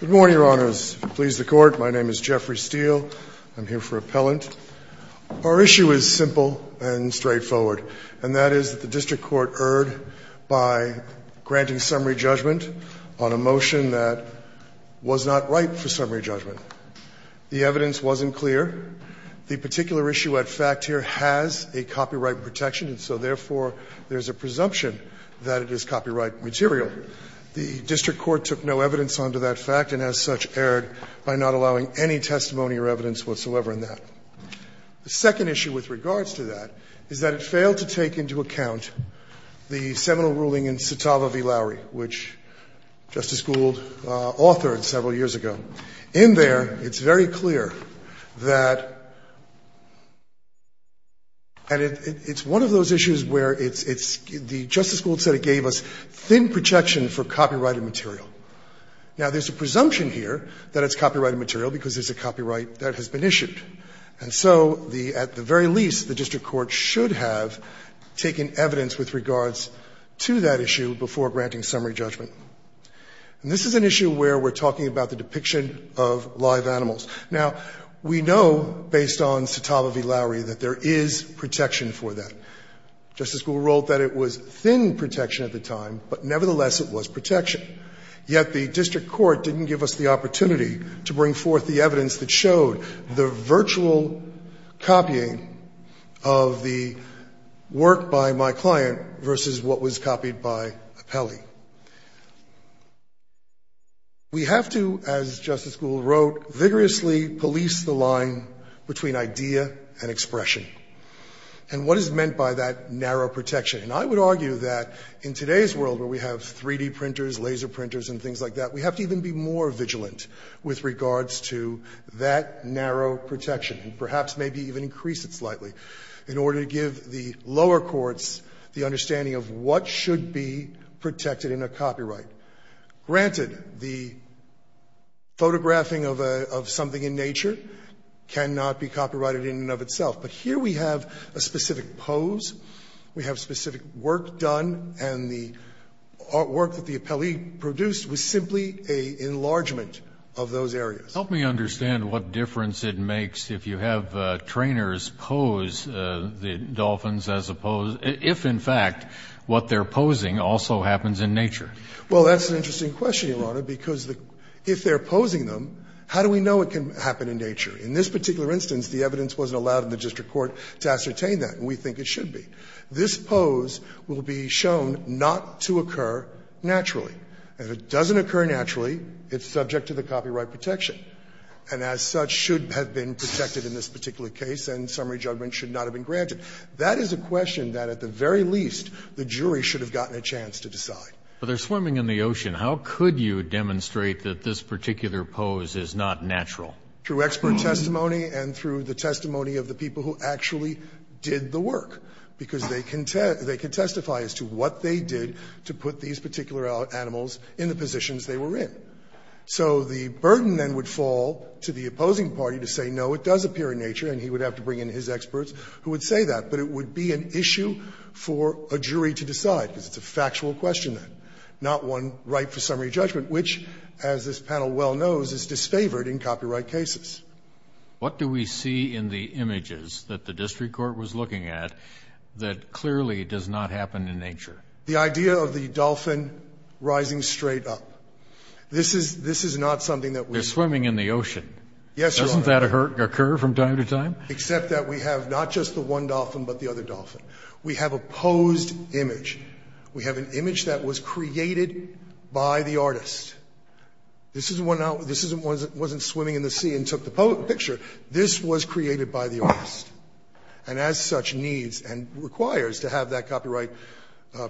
Good morning, your honors. Please the court. My name is Jeffrey Steele. I'm here for appellant. Our issue is simple and straightforward, and that is that the district court erred by granting summary judgment on a motion that was not right for summary judgment. The evidence wasn't clear. The particular issue at fact here has a copyright protection, and so therefore, there's a presumption that it is copyright material. The district court took no evidence of that, and I'm here for appellant. The second issue with regards to that is that it failed to take into account the seminal ruling in Citava v. Lowery, which Justice Gould authored several years ago. In there, it's very clear that, and it's one of those issues where it's, it's, the Justice Gould said it gave us thin projection for copyrighted material. Now, there's a presumption here that it's copyrighted material because it's a copyright that has been issued. And so the, at the very least, the district court should have taken evidence with regards to that issue before granting summary judgment. And this is an issue where we're talking about the depiction of live animals. Now, we know, based on Citava v. Lowery, that there is protection for that. Justice Gould wrote that it was thin protection at the time, but nevertheless, it was protection. Yet the district court didn't give us the opportunity to bring forth the evidence that showed the virtual copying of the work by my client versus what was copied by Appelli. We have to, as Justice Gould wrote, vigorously police the line between idea and expression. And what is meant by that narrow protection? And I would argue that in today's world where we have 3D printers, laser printers, and things like that, we have to even be more vigilant with regards to that narrow protection and perhaps maybe even increase it slightly in order to give the lower courts the understanding of what should be protected in a copyright. Granted, the photographing of something in nature cannot be copyrighted in and of itself. But here we have a specific pose, we have specific work done, and the artwork that the Appelli produced was simply an enlargement of those areas. Kennedy. Help me understand what difference it makes if you have trainers pose the dolphins as opposed to if, in fact, what they're posing also happens in nature. Well, that's an interesting question, Your Honor, because if they're posing them, how do we know it can happen in nature? In this particular instance, the evidence wasn't allowed in the district court to ascertain that, and we think it should be. This pose will be shown not to occur naturally. If it doesn't occur naturally, it's subject to the copyright protection, and as such, should have been protected in this particular case, and summary judgment should not have been granted. That is a question that at the very least the jury should have gotten a chance to decide. But they're swimming in the ocean. How could you demonstrate that this particular pose is not natural? Through expert testimony and through the testimony of the people who actually did the work, because they can testify as to what they did to put these particular animals in the positions they were in. So the burden then would fall to the opposing party to say, no, it does appear in nature, and he would have to bring in his experts who would say that. But it would be an issue for a jury to decide, because it's a factual question, not one ripe for summary judgment, which, as this panel well knows, is disfavored in copyright cases. What do we see in the images that the district court was looking at that clearly does not happen in nature? The idea of the dolphin rising straight up. This is not something that we see. They're swimming in the ocean. Yes, Your Honor. Doesn't that occur from time to time? Except that we have not just the one dolphin, but the other dolphin. We have a posed image. We have an image that was created by the artist. This isn't one that wasn't swimming in the sea and took the picture. This was created by the artist. And as such, needs and requires to have that copyright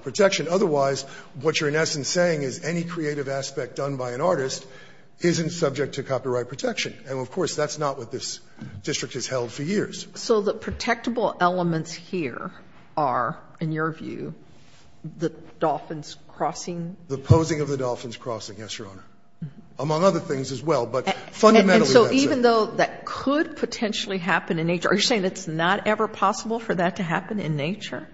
protection. Otherwise, what you're in essence saying is any creative aspect done by an artist isn't subject to copyright protection. And, of course, that's not what this district has held for years. So the protectable elements here are, in your view, the dolphins crossing? The posing of the dolphins crossing, yes, Your Honor. Among other things as well, but fundamentally that's it. And so even though that could potentially happen in nature, are you saying it's not ever possible for that to happen in nature?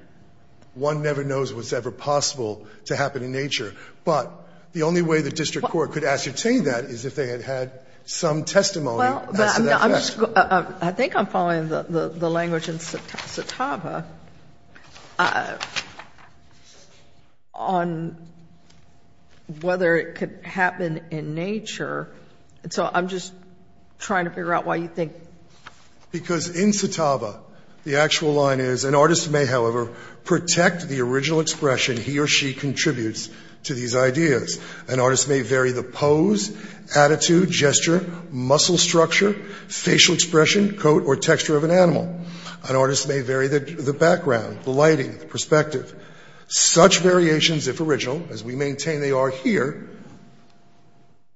One never knows what's ever possible to happen in nature. But the only way the district court could ascertain that is if they had had some testimony as to that fact. I think I'm following the language in Satava on whether it could happen in nature. So I'm just trying to figure out why you think. Because in Satava, the actual line is an artist may, however, protect the original expression he or she contributes to these ideas. An artist may vary the pose, attitude, gesture, muscle structure, facial expression, coat, or texture of an animal. An artist may vary the background, the lighting, the perspective. Such variations, if original, as we maintain they are here,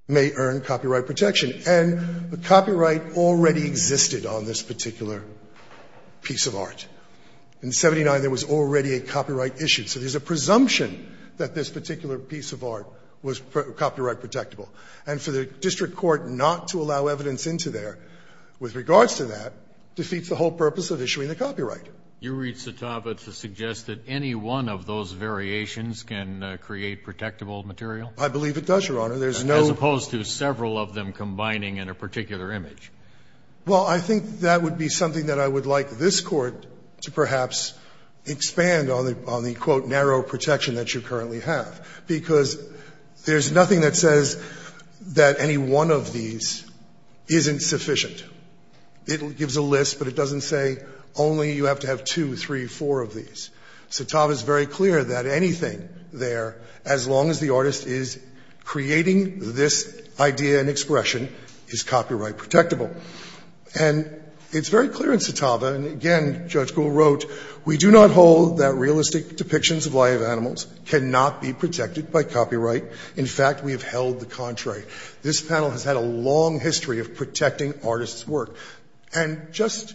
may earn copyright protection. In 1979, there was already a copyright issue. So there's a presumption that this particular piece of art was copyright protectable. And for the district court not to allow evidence into there with regards to that defeats the whole purpose of issuing the copyright. You read Satava to suggest that any one of those variations can create protectable material? I believe it does, Your Honor. As opposed to several of them combining in a particular image. Well, I think that would be something that I would like this Court to perhaps expand on the, quote, narrow protection that you currently have. Because there's nothing that says that any one of these isn't sufficient. It gives a list, but it doesn't say only you have to have two, three, four of these. Satava is very clear that anything there, as long as the artist is creating this idea and expression, is copyright protectable. And it's very clear in Satava, and again, Judge Gould wrote, we do not hold that realistic depictions of live animals cannot be protected by copyright. In fact, we have held the contrary. This panel has had a long history of protecting artists' work. And just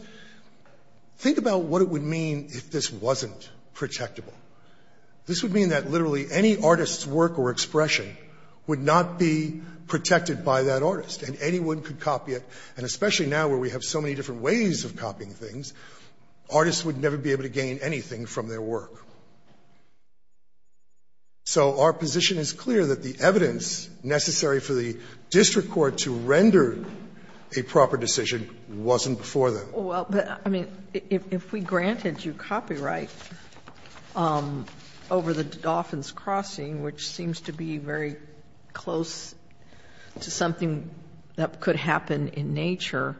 think about what it would mean if this wasn't protectable. This would mean that literally any artist's work or expression would not be protected by that artist, and anyone could copy it. And especially now where we have so many different ways of copying things, artists would never be able to gain anything from their work. So our position is clear that the evidence necessary for the district court to render a proper decision wasn't before them. Well, but, I mean, if we granted you copyright over the Dolphin's Crossing, which seems to be very close to something that could happen in nature,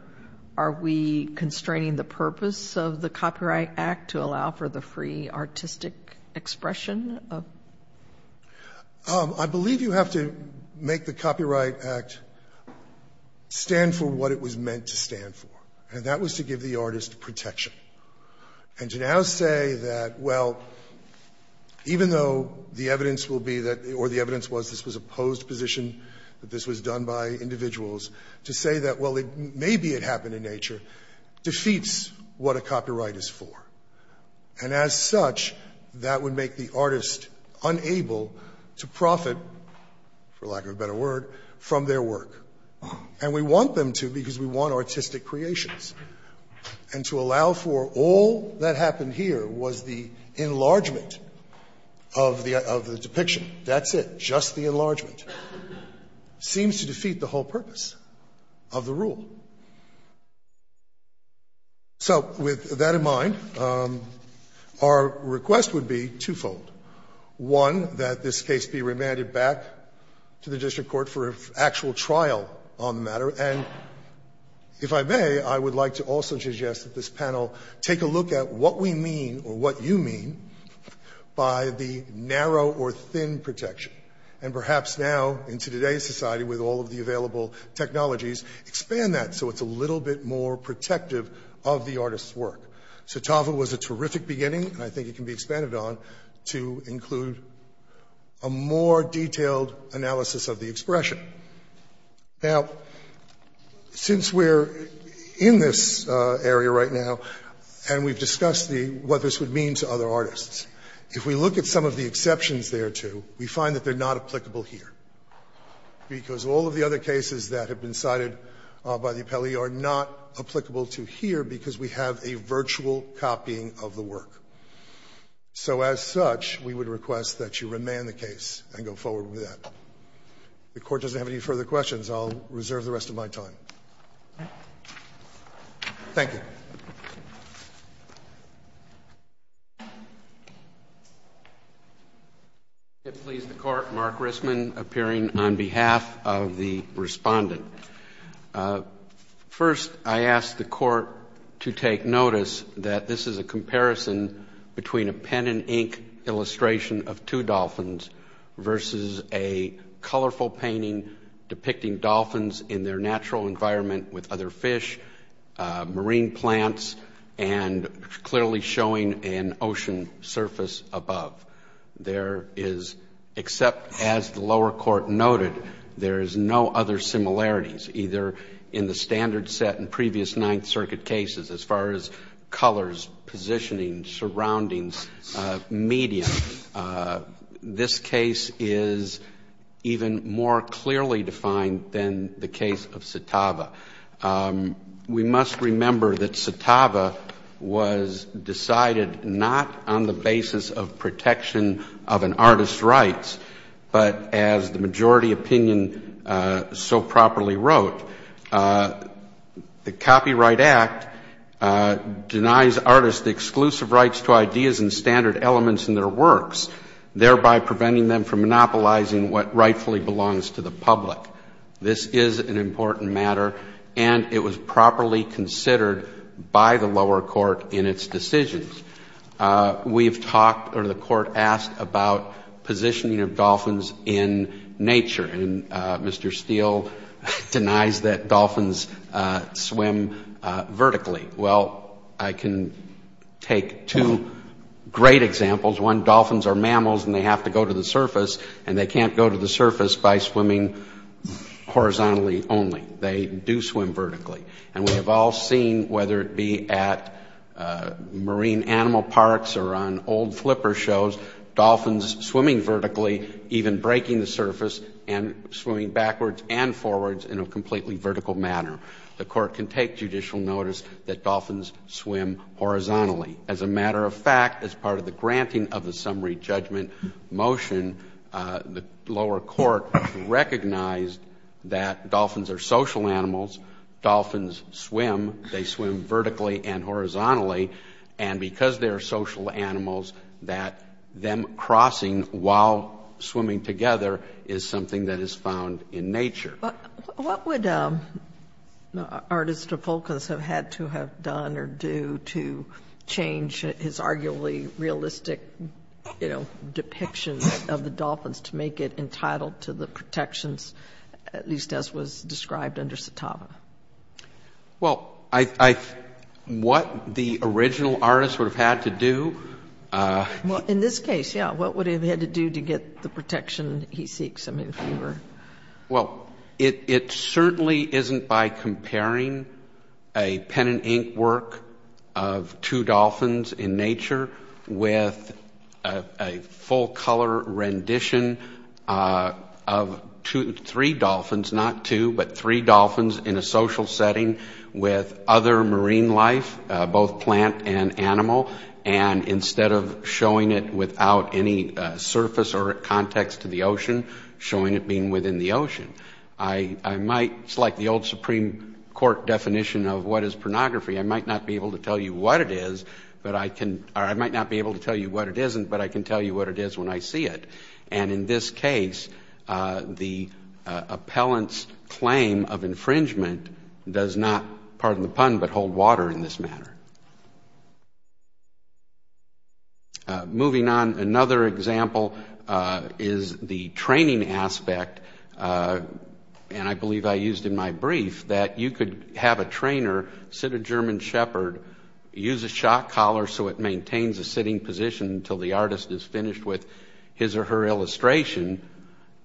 are we constraining the purpose of the Copyright Act to allow for the free artistic expression? I believe you have to make the Copyright Act stand for what it was meant to stand for. And that was to give the artist protection. And to now say that, well, even though the evidence will be that, or the evidence was this was a posed position, that this was done by individuals, to say that, well, maybe it happened in nature, defeats what a copyright is for. And as such, that would make the artist unable to profit, for lack of a better word, from their work. And we want them to because we want artistic creations. And to allow for all that happened here was the enlargement of the depiction. That's it. Just the enlargement. Seems to defeat the whole purpose of the rule. So with that in mind, our request would be twofold. One, that this case be remanded back to the district court for an actual trial on the matter. And if I may, I would like to also suggest that this panel take a look at what we mean, or what you mean, by the narrow or thin protection. And perhaps now, into today's society, with all of the available technologies, expand that so it's a little bit more protective of the artist's work. So TAFA was a terrific beginning, and I think it can be expanded on, to include a more detailed analysis of the expression. Now, since we're in this area right now, and we've discussed what this would mean to other artists. If we look at some of the exceptions there too, we find that they're not applicable here. Because all of the other cases that have been cited by the appellee are not a virtual copying of the work. So as such, we would request that you remand the case and go forward with that. If the Court doesn't have any further questions, I'll reserve the rest of my time. Thank you. If it pleases the Court, Mark Rissman, appearing on behalf of the respondent. First, I ask the Court to take notice that this is a comparison between a pen and ink illustration of two dolphins, versus a colorful painting depicting dolphins in their natural environment with other fish, marine plants, and clearly showing an ocean surface above. There is, except as the lower court noted, there is no other similarities, either in the standard set in previous Ninth Circuit cases, as far as colors, positioning, surroundings, medium. This case is even more clearly defined than the case of Setava. We must remember that Setava was decided not on the basis of protection of an artist's rights, but as the majority opinion so properly wrote, the Copyright Act denies artists the exclusive rights to ideas and standard elements in their works, thereby preventing them from monopolizing what rightfully belongs to the public. This is an important matter, and it was properly considered by the lower court in its decisions. We have talked, or the Court asked, about positioning of dolphins in nature, and Mr. Steele denies that dolphins swim vertically. Well, I can take two great examples. One, dolphins are mammals and they have to go to the surface, and they can't go to the surface by swimming horizontally only. They do swim vertically. And we have all seen, whether it be at marine animal parks or on old flipper shows, dolphins swimming vertically, even breaking the surface, and swimming backwards and forwards in a completely vertical manner. The Court can take judicial notice that dolphins swim horizontally. As a matter of fact, as part of the granting of the summary judgment motion, the lower court recognized that dolphins are social animals. Dolphins swim, they swim vertically and horizontally, and because they are social animals, that them crossing while swimming together is something that is found in nature. What would Artista Fulcans have had to have done or do to change his arguably realistic, you know, depictions of the dolphins to make it entitled to the protections, at least as was described under Citava? Well, what the original artist would have had to do... Well, in this case, yeah, what would he have had to do to get the protection he seeks? Well, it certainly isn't by comparing a pen and ink work of two dolphins in nature with a full-color rendition of three dolphins, not two, but three dolphins in a social setting with other marine life, both plant and animal, and instead of showing it without any surface or context to the ocean, showing it being within the ocean. It's like the old Supreme Court definition of what is pornography. I might not be able to tell you what it is, or I might not be able to tell you what it isn't, but I can tell you what it is when I see it, and in this case, the appellant's claim of infringement does not, pardon the pun, but hold water in this matter. Moving on, another example is the training aspect, and I believe I used in my brief that you could have a trainer sit a German shepherd, use a shock collar so it maintains a sitting position until the artist is finished with his or her illustration,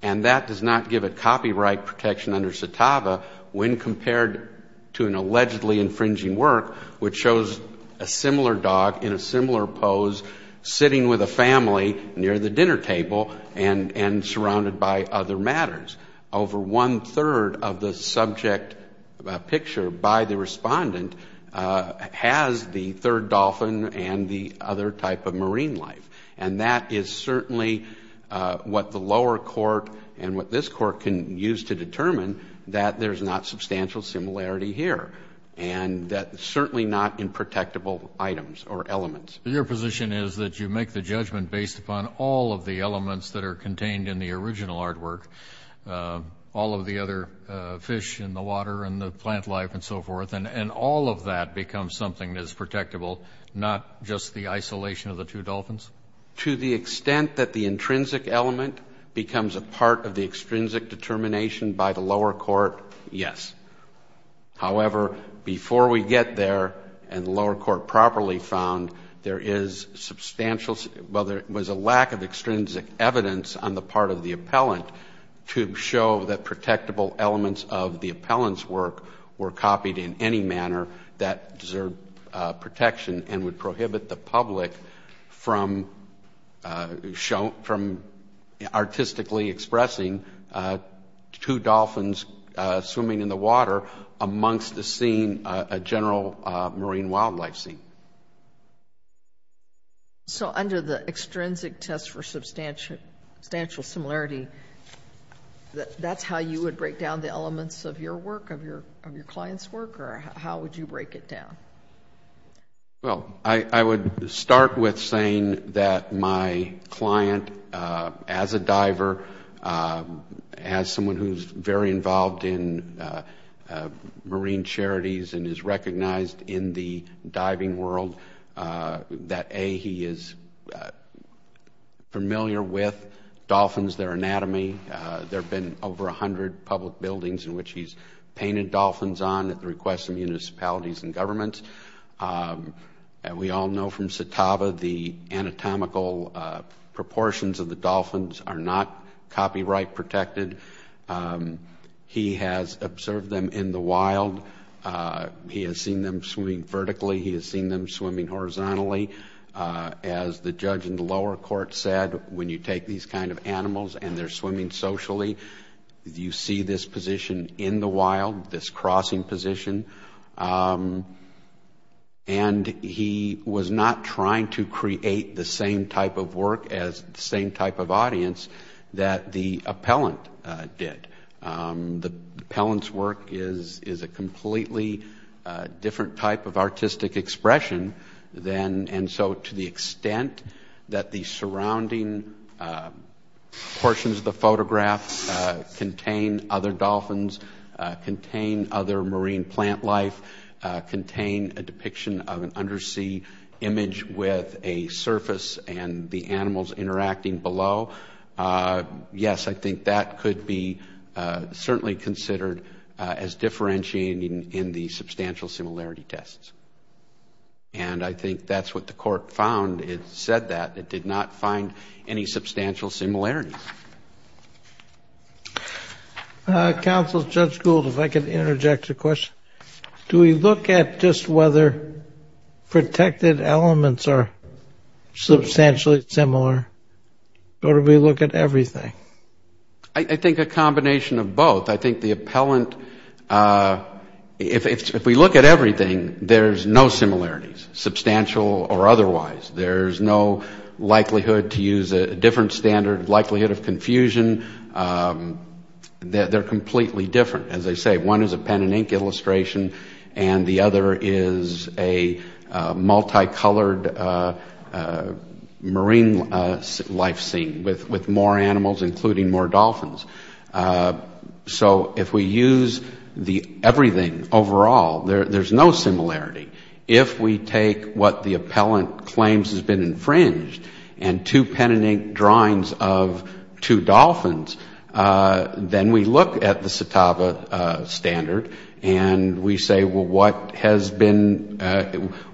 and that does not give it copyright protection under CITAVA when compared to an allegedly infringing work which shows a similar dog in a similar pose sitting with a family near the dinner table and surrounded by other matters. Over one-third of the subject picture by the respondent has the third dolphin and the other type of marine life, and that is certainly what the lower court and what this court can use to determine that there's not substantial similarity here Your position is that you make the judgment based upon all of the elements that are contained in the original artwork, all of the other fish in the water and the plant life and so forth, and all of that becomes something that's protectable, not just the isolation of the two dolphins? To the extent that the intrinsic element becomes a part of the extrinsic determination by the lower court, yes. However, before we get there and the lower court properly found there is substantial... Well, there was a lack of extrinsic evidence on the part of the appellant to show that protectable elements of the appellant's work were copied in any manner that deserved protection and would prohibit the public from artistically expressing two dolphins swimming in the water amongst the scene, a general marine wildlife scene. So under the extrinsic test for substantial similarity, that's how you would break down the elements of your work, of your client's work, or how would you break it down? Well, I would start with saying that my client, as a diver, as someone who's very involved in marine charities and is recognized in the diving world, that A, he is familiar with dolphins, their anatomy. There have been over a hundred public buildings in which he's painted dolphins on at the request of municipalities and governments. We all know from Setava the anatomical proportions of the dolphins are not copyright protected. He has observed them in the wild. He has seen them swimming vertically. He has seen them swimming horizontally. As the judge in the lower court said, when you take these kind of animals and they're swimming socially, you see this position in the wild, this crossing position. And he was not trying to create the same type of work as the same type of audience that the appellant did. The appellant's work is a completely different type of artistic expression and so to the extent that the surrounding portions of the photograph contain other dolphins, contain other marine plant life, contain a depiction of an undersea image with a surface and the animals interacting below, yes, I think that could be certainly considered as differentiating in the substantial similarity tests. And I think that's what the court found. It said that it did not find any substantial similarities. Counsel, Judge Gould, if I could interject a question. Do we look at just whether protected elements are substantially similar or do we look at everything? I think a combination of both. I think the appellant, if we look at everything, there's no similarities, substantial or otherwise. There's no likelihood to use a different standard, likelihood of confusion. They're completely different. As I say, one is a pen and ink illustration and the other is a multicolored marine life scene with more animals including more dolphins. So if we use everything overall, there's no similarity. If we take what the appellant claims has been infringed and two pen and ink drawings of two dolphins, then we look at the CITAVA standard and we say, well, what has been,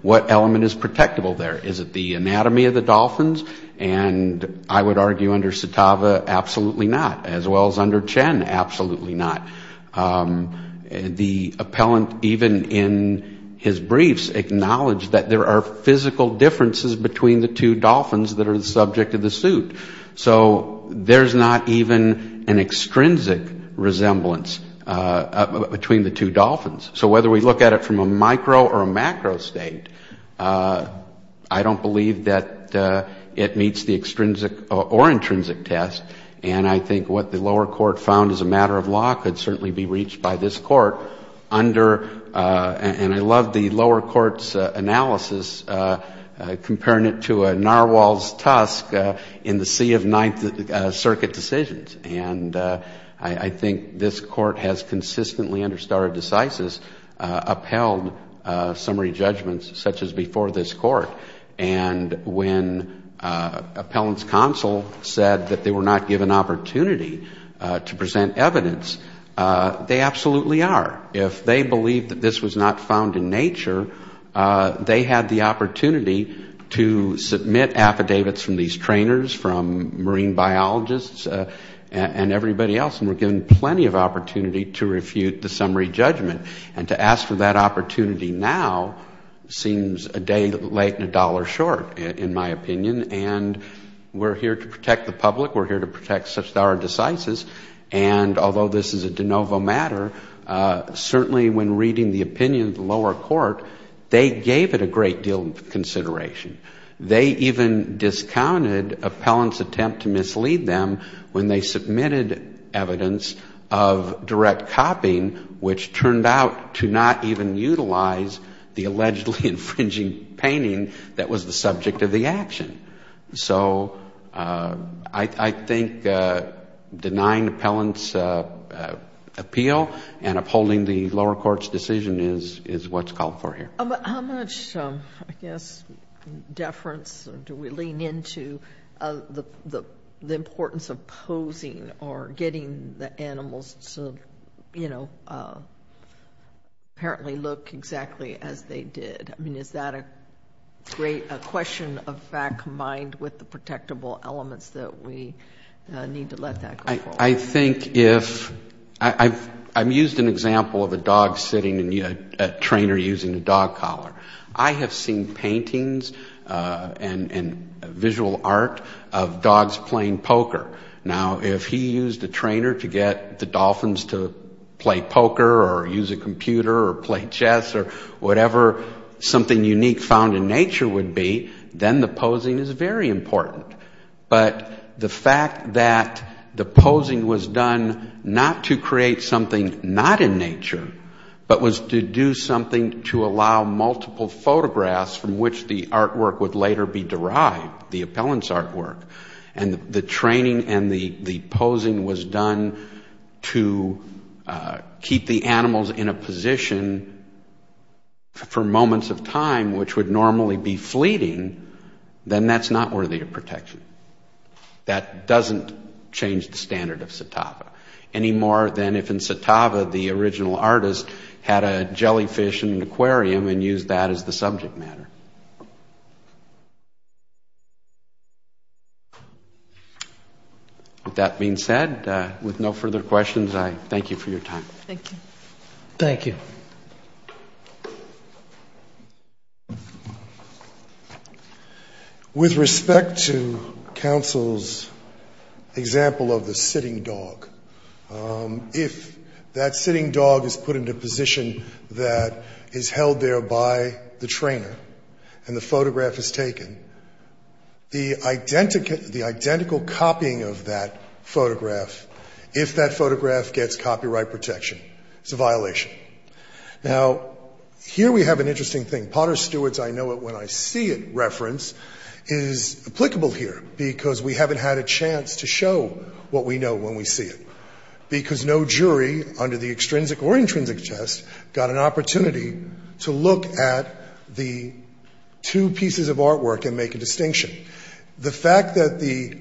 what element is protectable there? Is it the anatomy of the dolphins? And I would argue under CITAVA, absolutely not, as well as under Chen, absolutely not. The appellant, even in his briefs, acknowledged that there are physical differences between the two dolphins that are the subject of the suit. So there's not even an extrinsic resemblance between the two dolphins. So whether we look at it from a micro or a macro state, I don't believe that it meets the extrinsic or intrinsic test. And I think what the lower court found as a matter of law could certainly be reached by this court under, and I love the lower court's analysis, comparing it to a narwhal's tusk in the sea of Ninth Circuit decisions. And I think this court has consistently, under stare decisis, upheld summary judgments such as before this court. And when appellant's counsel said that they were not given opportunity to present evidence, they absolutely are. If they believe that this was not found in nature, they had the opportunity to submit affidavits from these trainers, from marine biologists, and everybody else, and were given plenty of opportunity to refute the summary judgment. And to ask for that opportunity now seems a day late and a dollar short, in my opinion. And we're here to protect the public. We're here to protect such stare decisis. And although this is a de novo matter, certainly when reading the opinion of the lower court, they gave it a great deal of consideration. They even discounted appellant's attempt to mislead them when they submitted evidence of direct copying, which turned out to not even utilize the allegedly infringing painting that was the subject of the action. So I think denying appellant's appeal and upholding the lower court's decision is what's called for here. How much, I guess, deference do we lean into the importance of posing or getting the animals to, you know, apparently look exactly as they did? I mean, is that a great question of fact combined with the protectable elements that we need to let that go forward? I think if ‑‑ I've used an example of a dog sitting in a trainer using a dog collar. I have seen paintings and visual art of dogs playing poker. Now, if he used a trainer to get the dolphins to play poker or use a computer or play chess or whatever something unique found in nature would be, then the posing is very important. But the fact that the posing was done not to create something not in nature, but was to do something to allow multiple photographs from which the artwork would later be derived, the appellant's artwork, and the training and the posing was done to keep the animals in a position for moments of time which would normally be fleeting, then that's not worthy of protection. That doesn't change the standard of satava any more than if in satava the original artist had a jellyfish in an aquarium and used that as the subject matter. With that being said, with no further questions, I thank you for your time. Thank you. Thank you. With respect to counsel's example of the sitting dog, if that sitting dog is put into a position that is held there by the trainer and the photograph is taken, the identical copying of that photograph, if that photograph gets copyright protection, it's a violation. Now, here we have an interesting thing. Potter Stewart's I know it when I see it reference is applicable here, because we haven't had a chance to show what we know when we see it, because no jury under the extrinsic or intrinsic test got an opportunity to look at the two pieces of artwork and make a distinction. That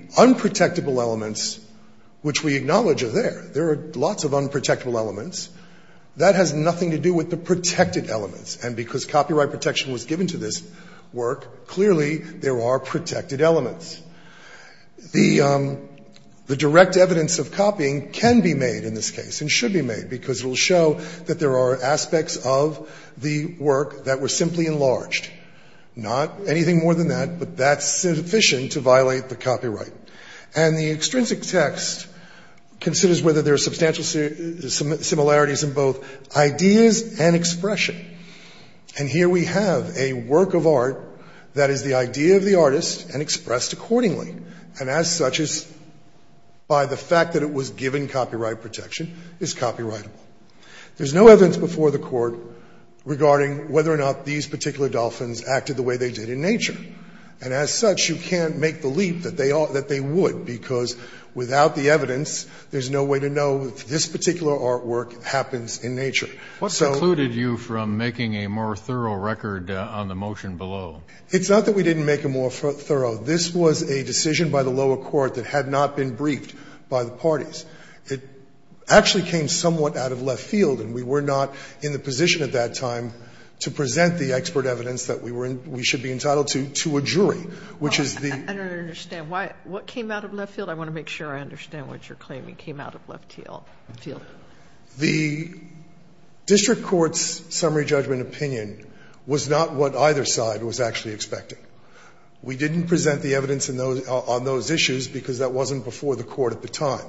has nothing to do with the protected elements, and because copyright protection was given to this work, clearly there are protected elements. The direct evidence of copying can be made in this case and should be made, because it will show that there are aspects of the work that were simply enlarged. Not anything more than that, but that's sufficient to violate the copyright. And the extrinsic text considers whether there are substantial similarities in both ideas and expression. And here we have a work of art that is the idea of the artist and expressed accordingly, and as such is, by the fact that it was given copyright protection, is copyrightable. There's no evidence before the Court regarding whether or not these particular dolphins acted the way they did in nature. And as such, you can't make the leap that they would, because without the evidence, there's no way to know if this particular artwork happens in nature. So we can't make the leap that they would, because without the evidence, It's not that we didn't make a more thorough. This was a decision by the lower court that had not been briefed by the parties. It actually came somewhat out of left field, and we were not in the position at that time to present the expert evidence that we should be entitled to to a jury, which Sotomayor, I don't understand. What came out of left field? I want to make sure I understand what you're claiming came out of left field. The district court's summary judgment opinion was not what either side was actually expecting. We didn't present the evidence on those issues because that wasn't before the court at the time,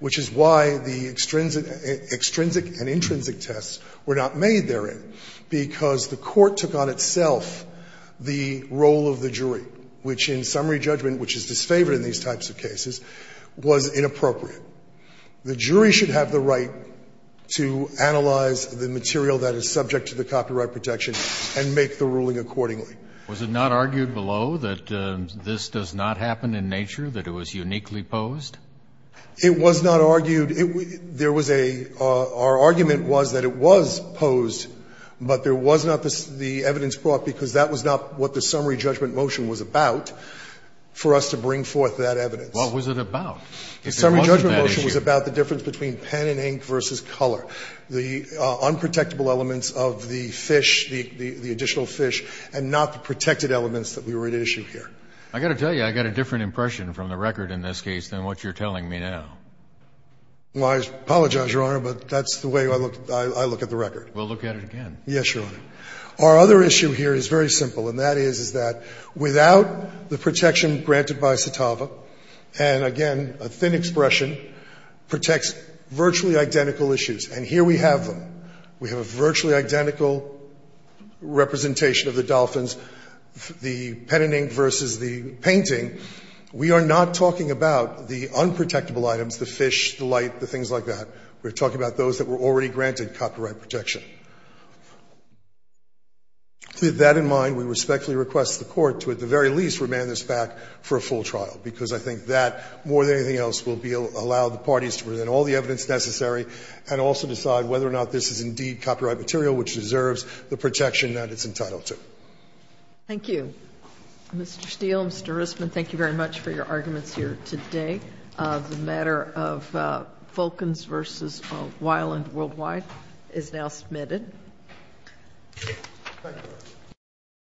which is why the extrinsic and intrinsic tests were not made therein. Because the court took on itself the role of the jury, which in summary judgment, which is disfavored in these types of cases, was inappropriate. The jury should have the right to analyze the material that is subject to the copyright protection and make the ruling accordingly. Was it not argued below that this does not happen in nature, that it was uniquely posed? It was not argued. There was a ‑‑ our argument was that it was posed, but there was not the evidence brought because that was not what the summary judgment motion was about for us to bring forth that evidence. What was it about? There wasn't that issue. Fisher. The summary judgment motion was about the difference between pen and ink versus color, the unprotectable elements of the fish, the additional fish, and not the protected elements that we were at issue here. I got to tell you, I got a different impression from the record in this case than what you're telling me now. Well, I apologize, Your Honor, but that's the way I look at the record. We'll look at it again. Yes, Your Honor. Our other issue here is very simple, and that is, is that without the protection granted by CITAVA, and again, a thin expression, protects virtually identical issues. And here we have them. We have a virtually identical representation of the dolphins, the pen and ink versus the painting. We are not talking about the unprotectable items, the fish, the light, the things like that. We're talking about those that were already granted copyright protection. With that in mind, we respectfully request the Court to at the very least remand this back for a full trial, because I think that, more than anything else, will allow the parties to present all the evidence necessary and also decide whether or not this is indeed copyright material which deserves the protection that it's entitled to. Thank you. Mr. Steele, Mr. Risman, thank you very much for your arguments here today. The matter of Vulcans versus Wyland Worldwide is now submitted.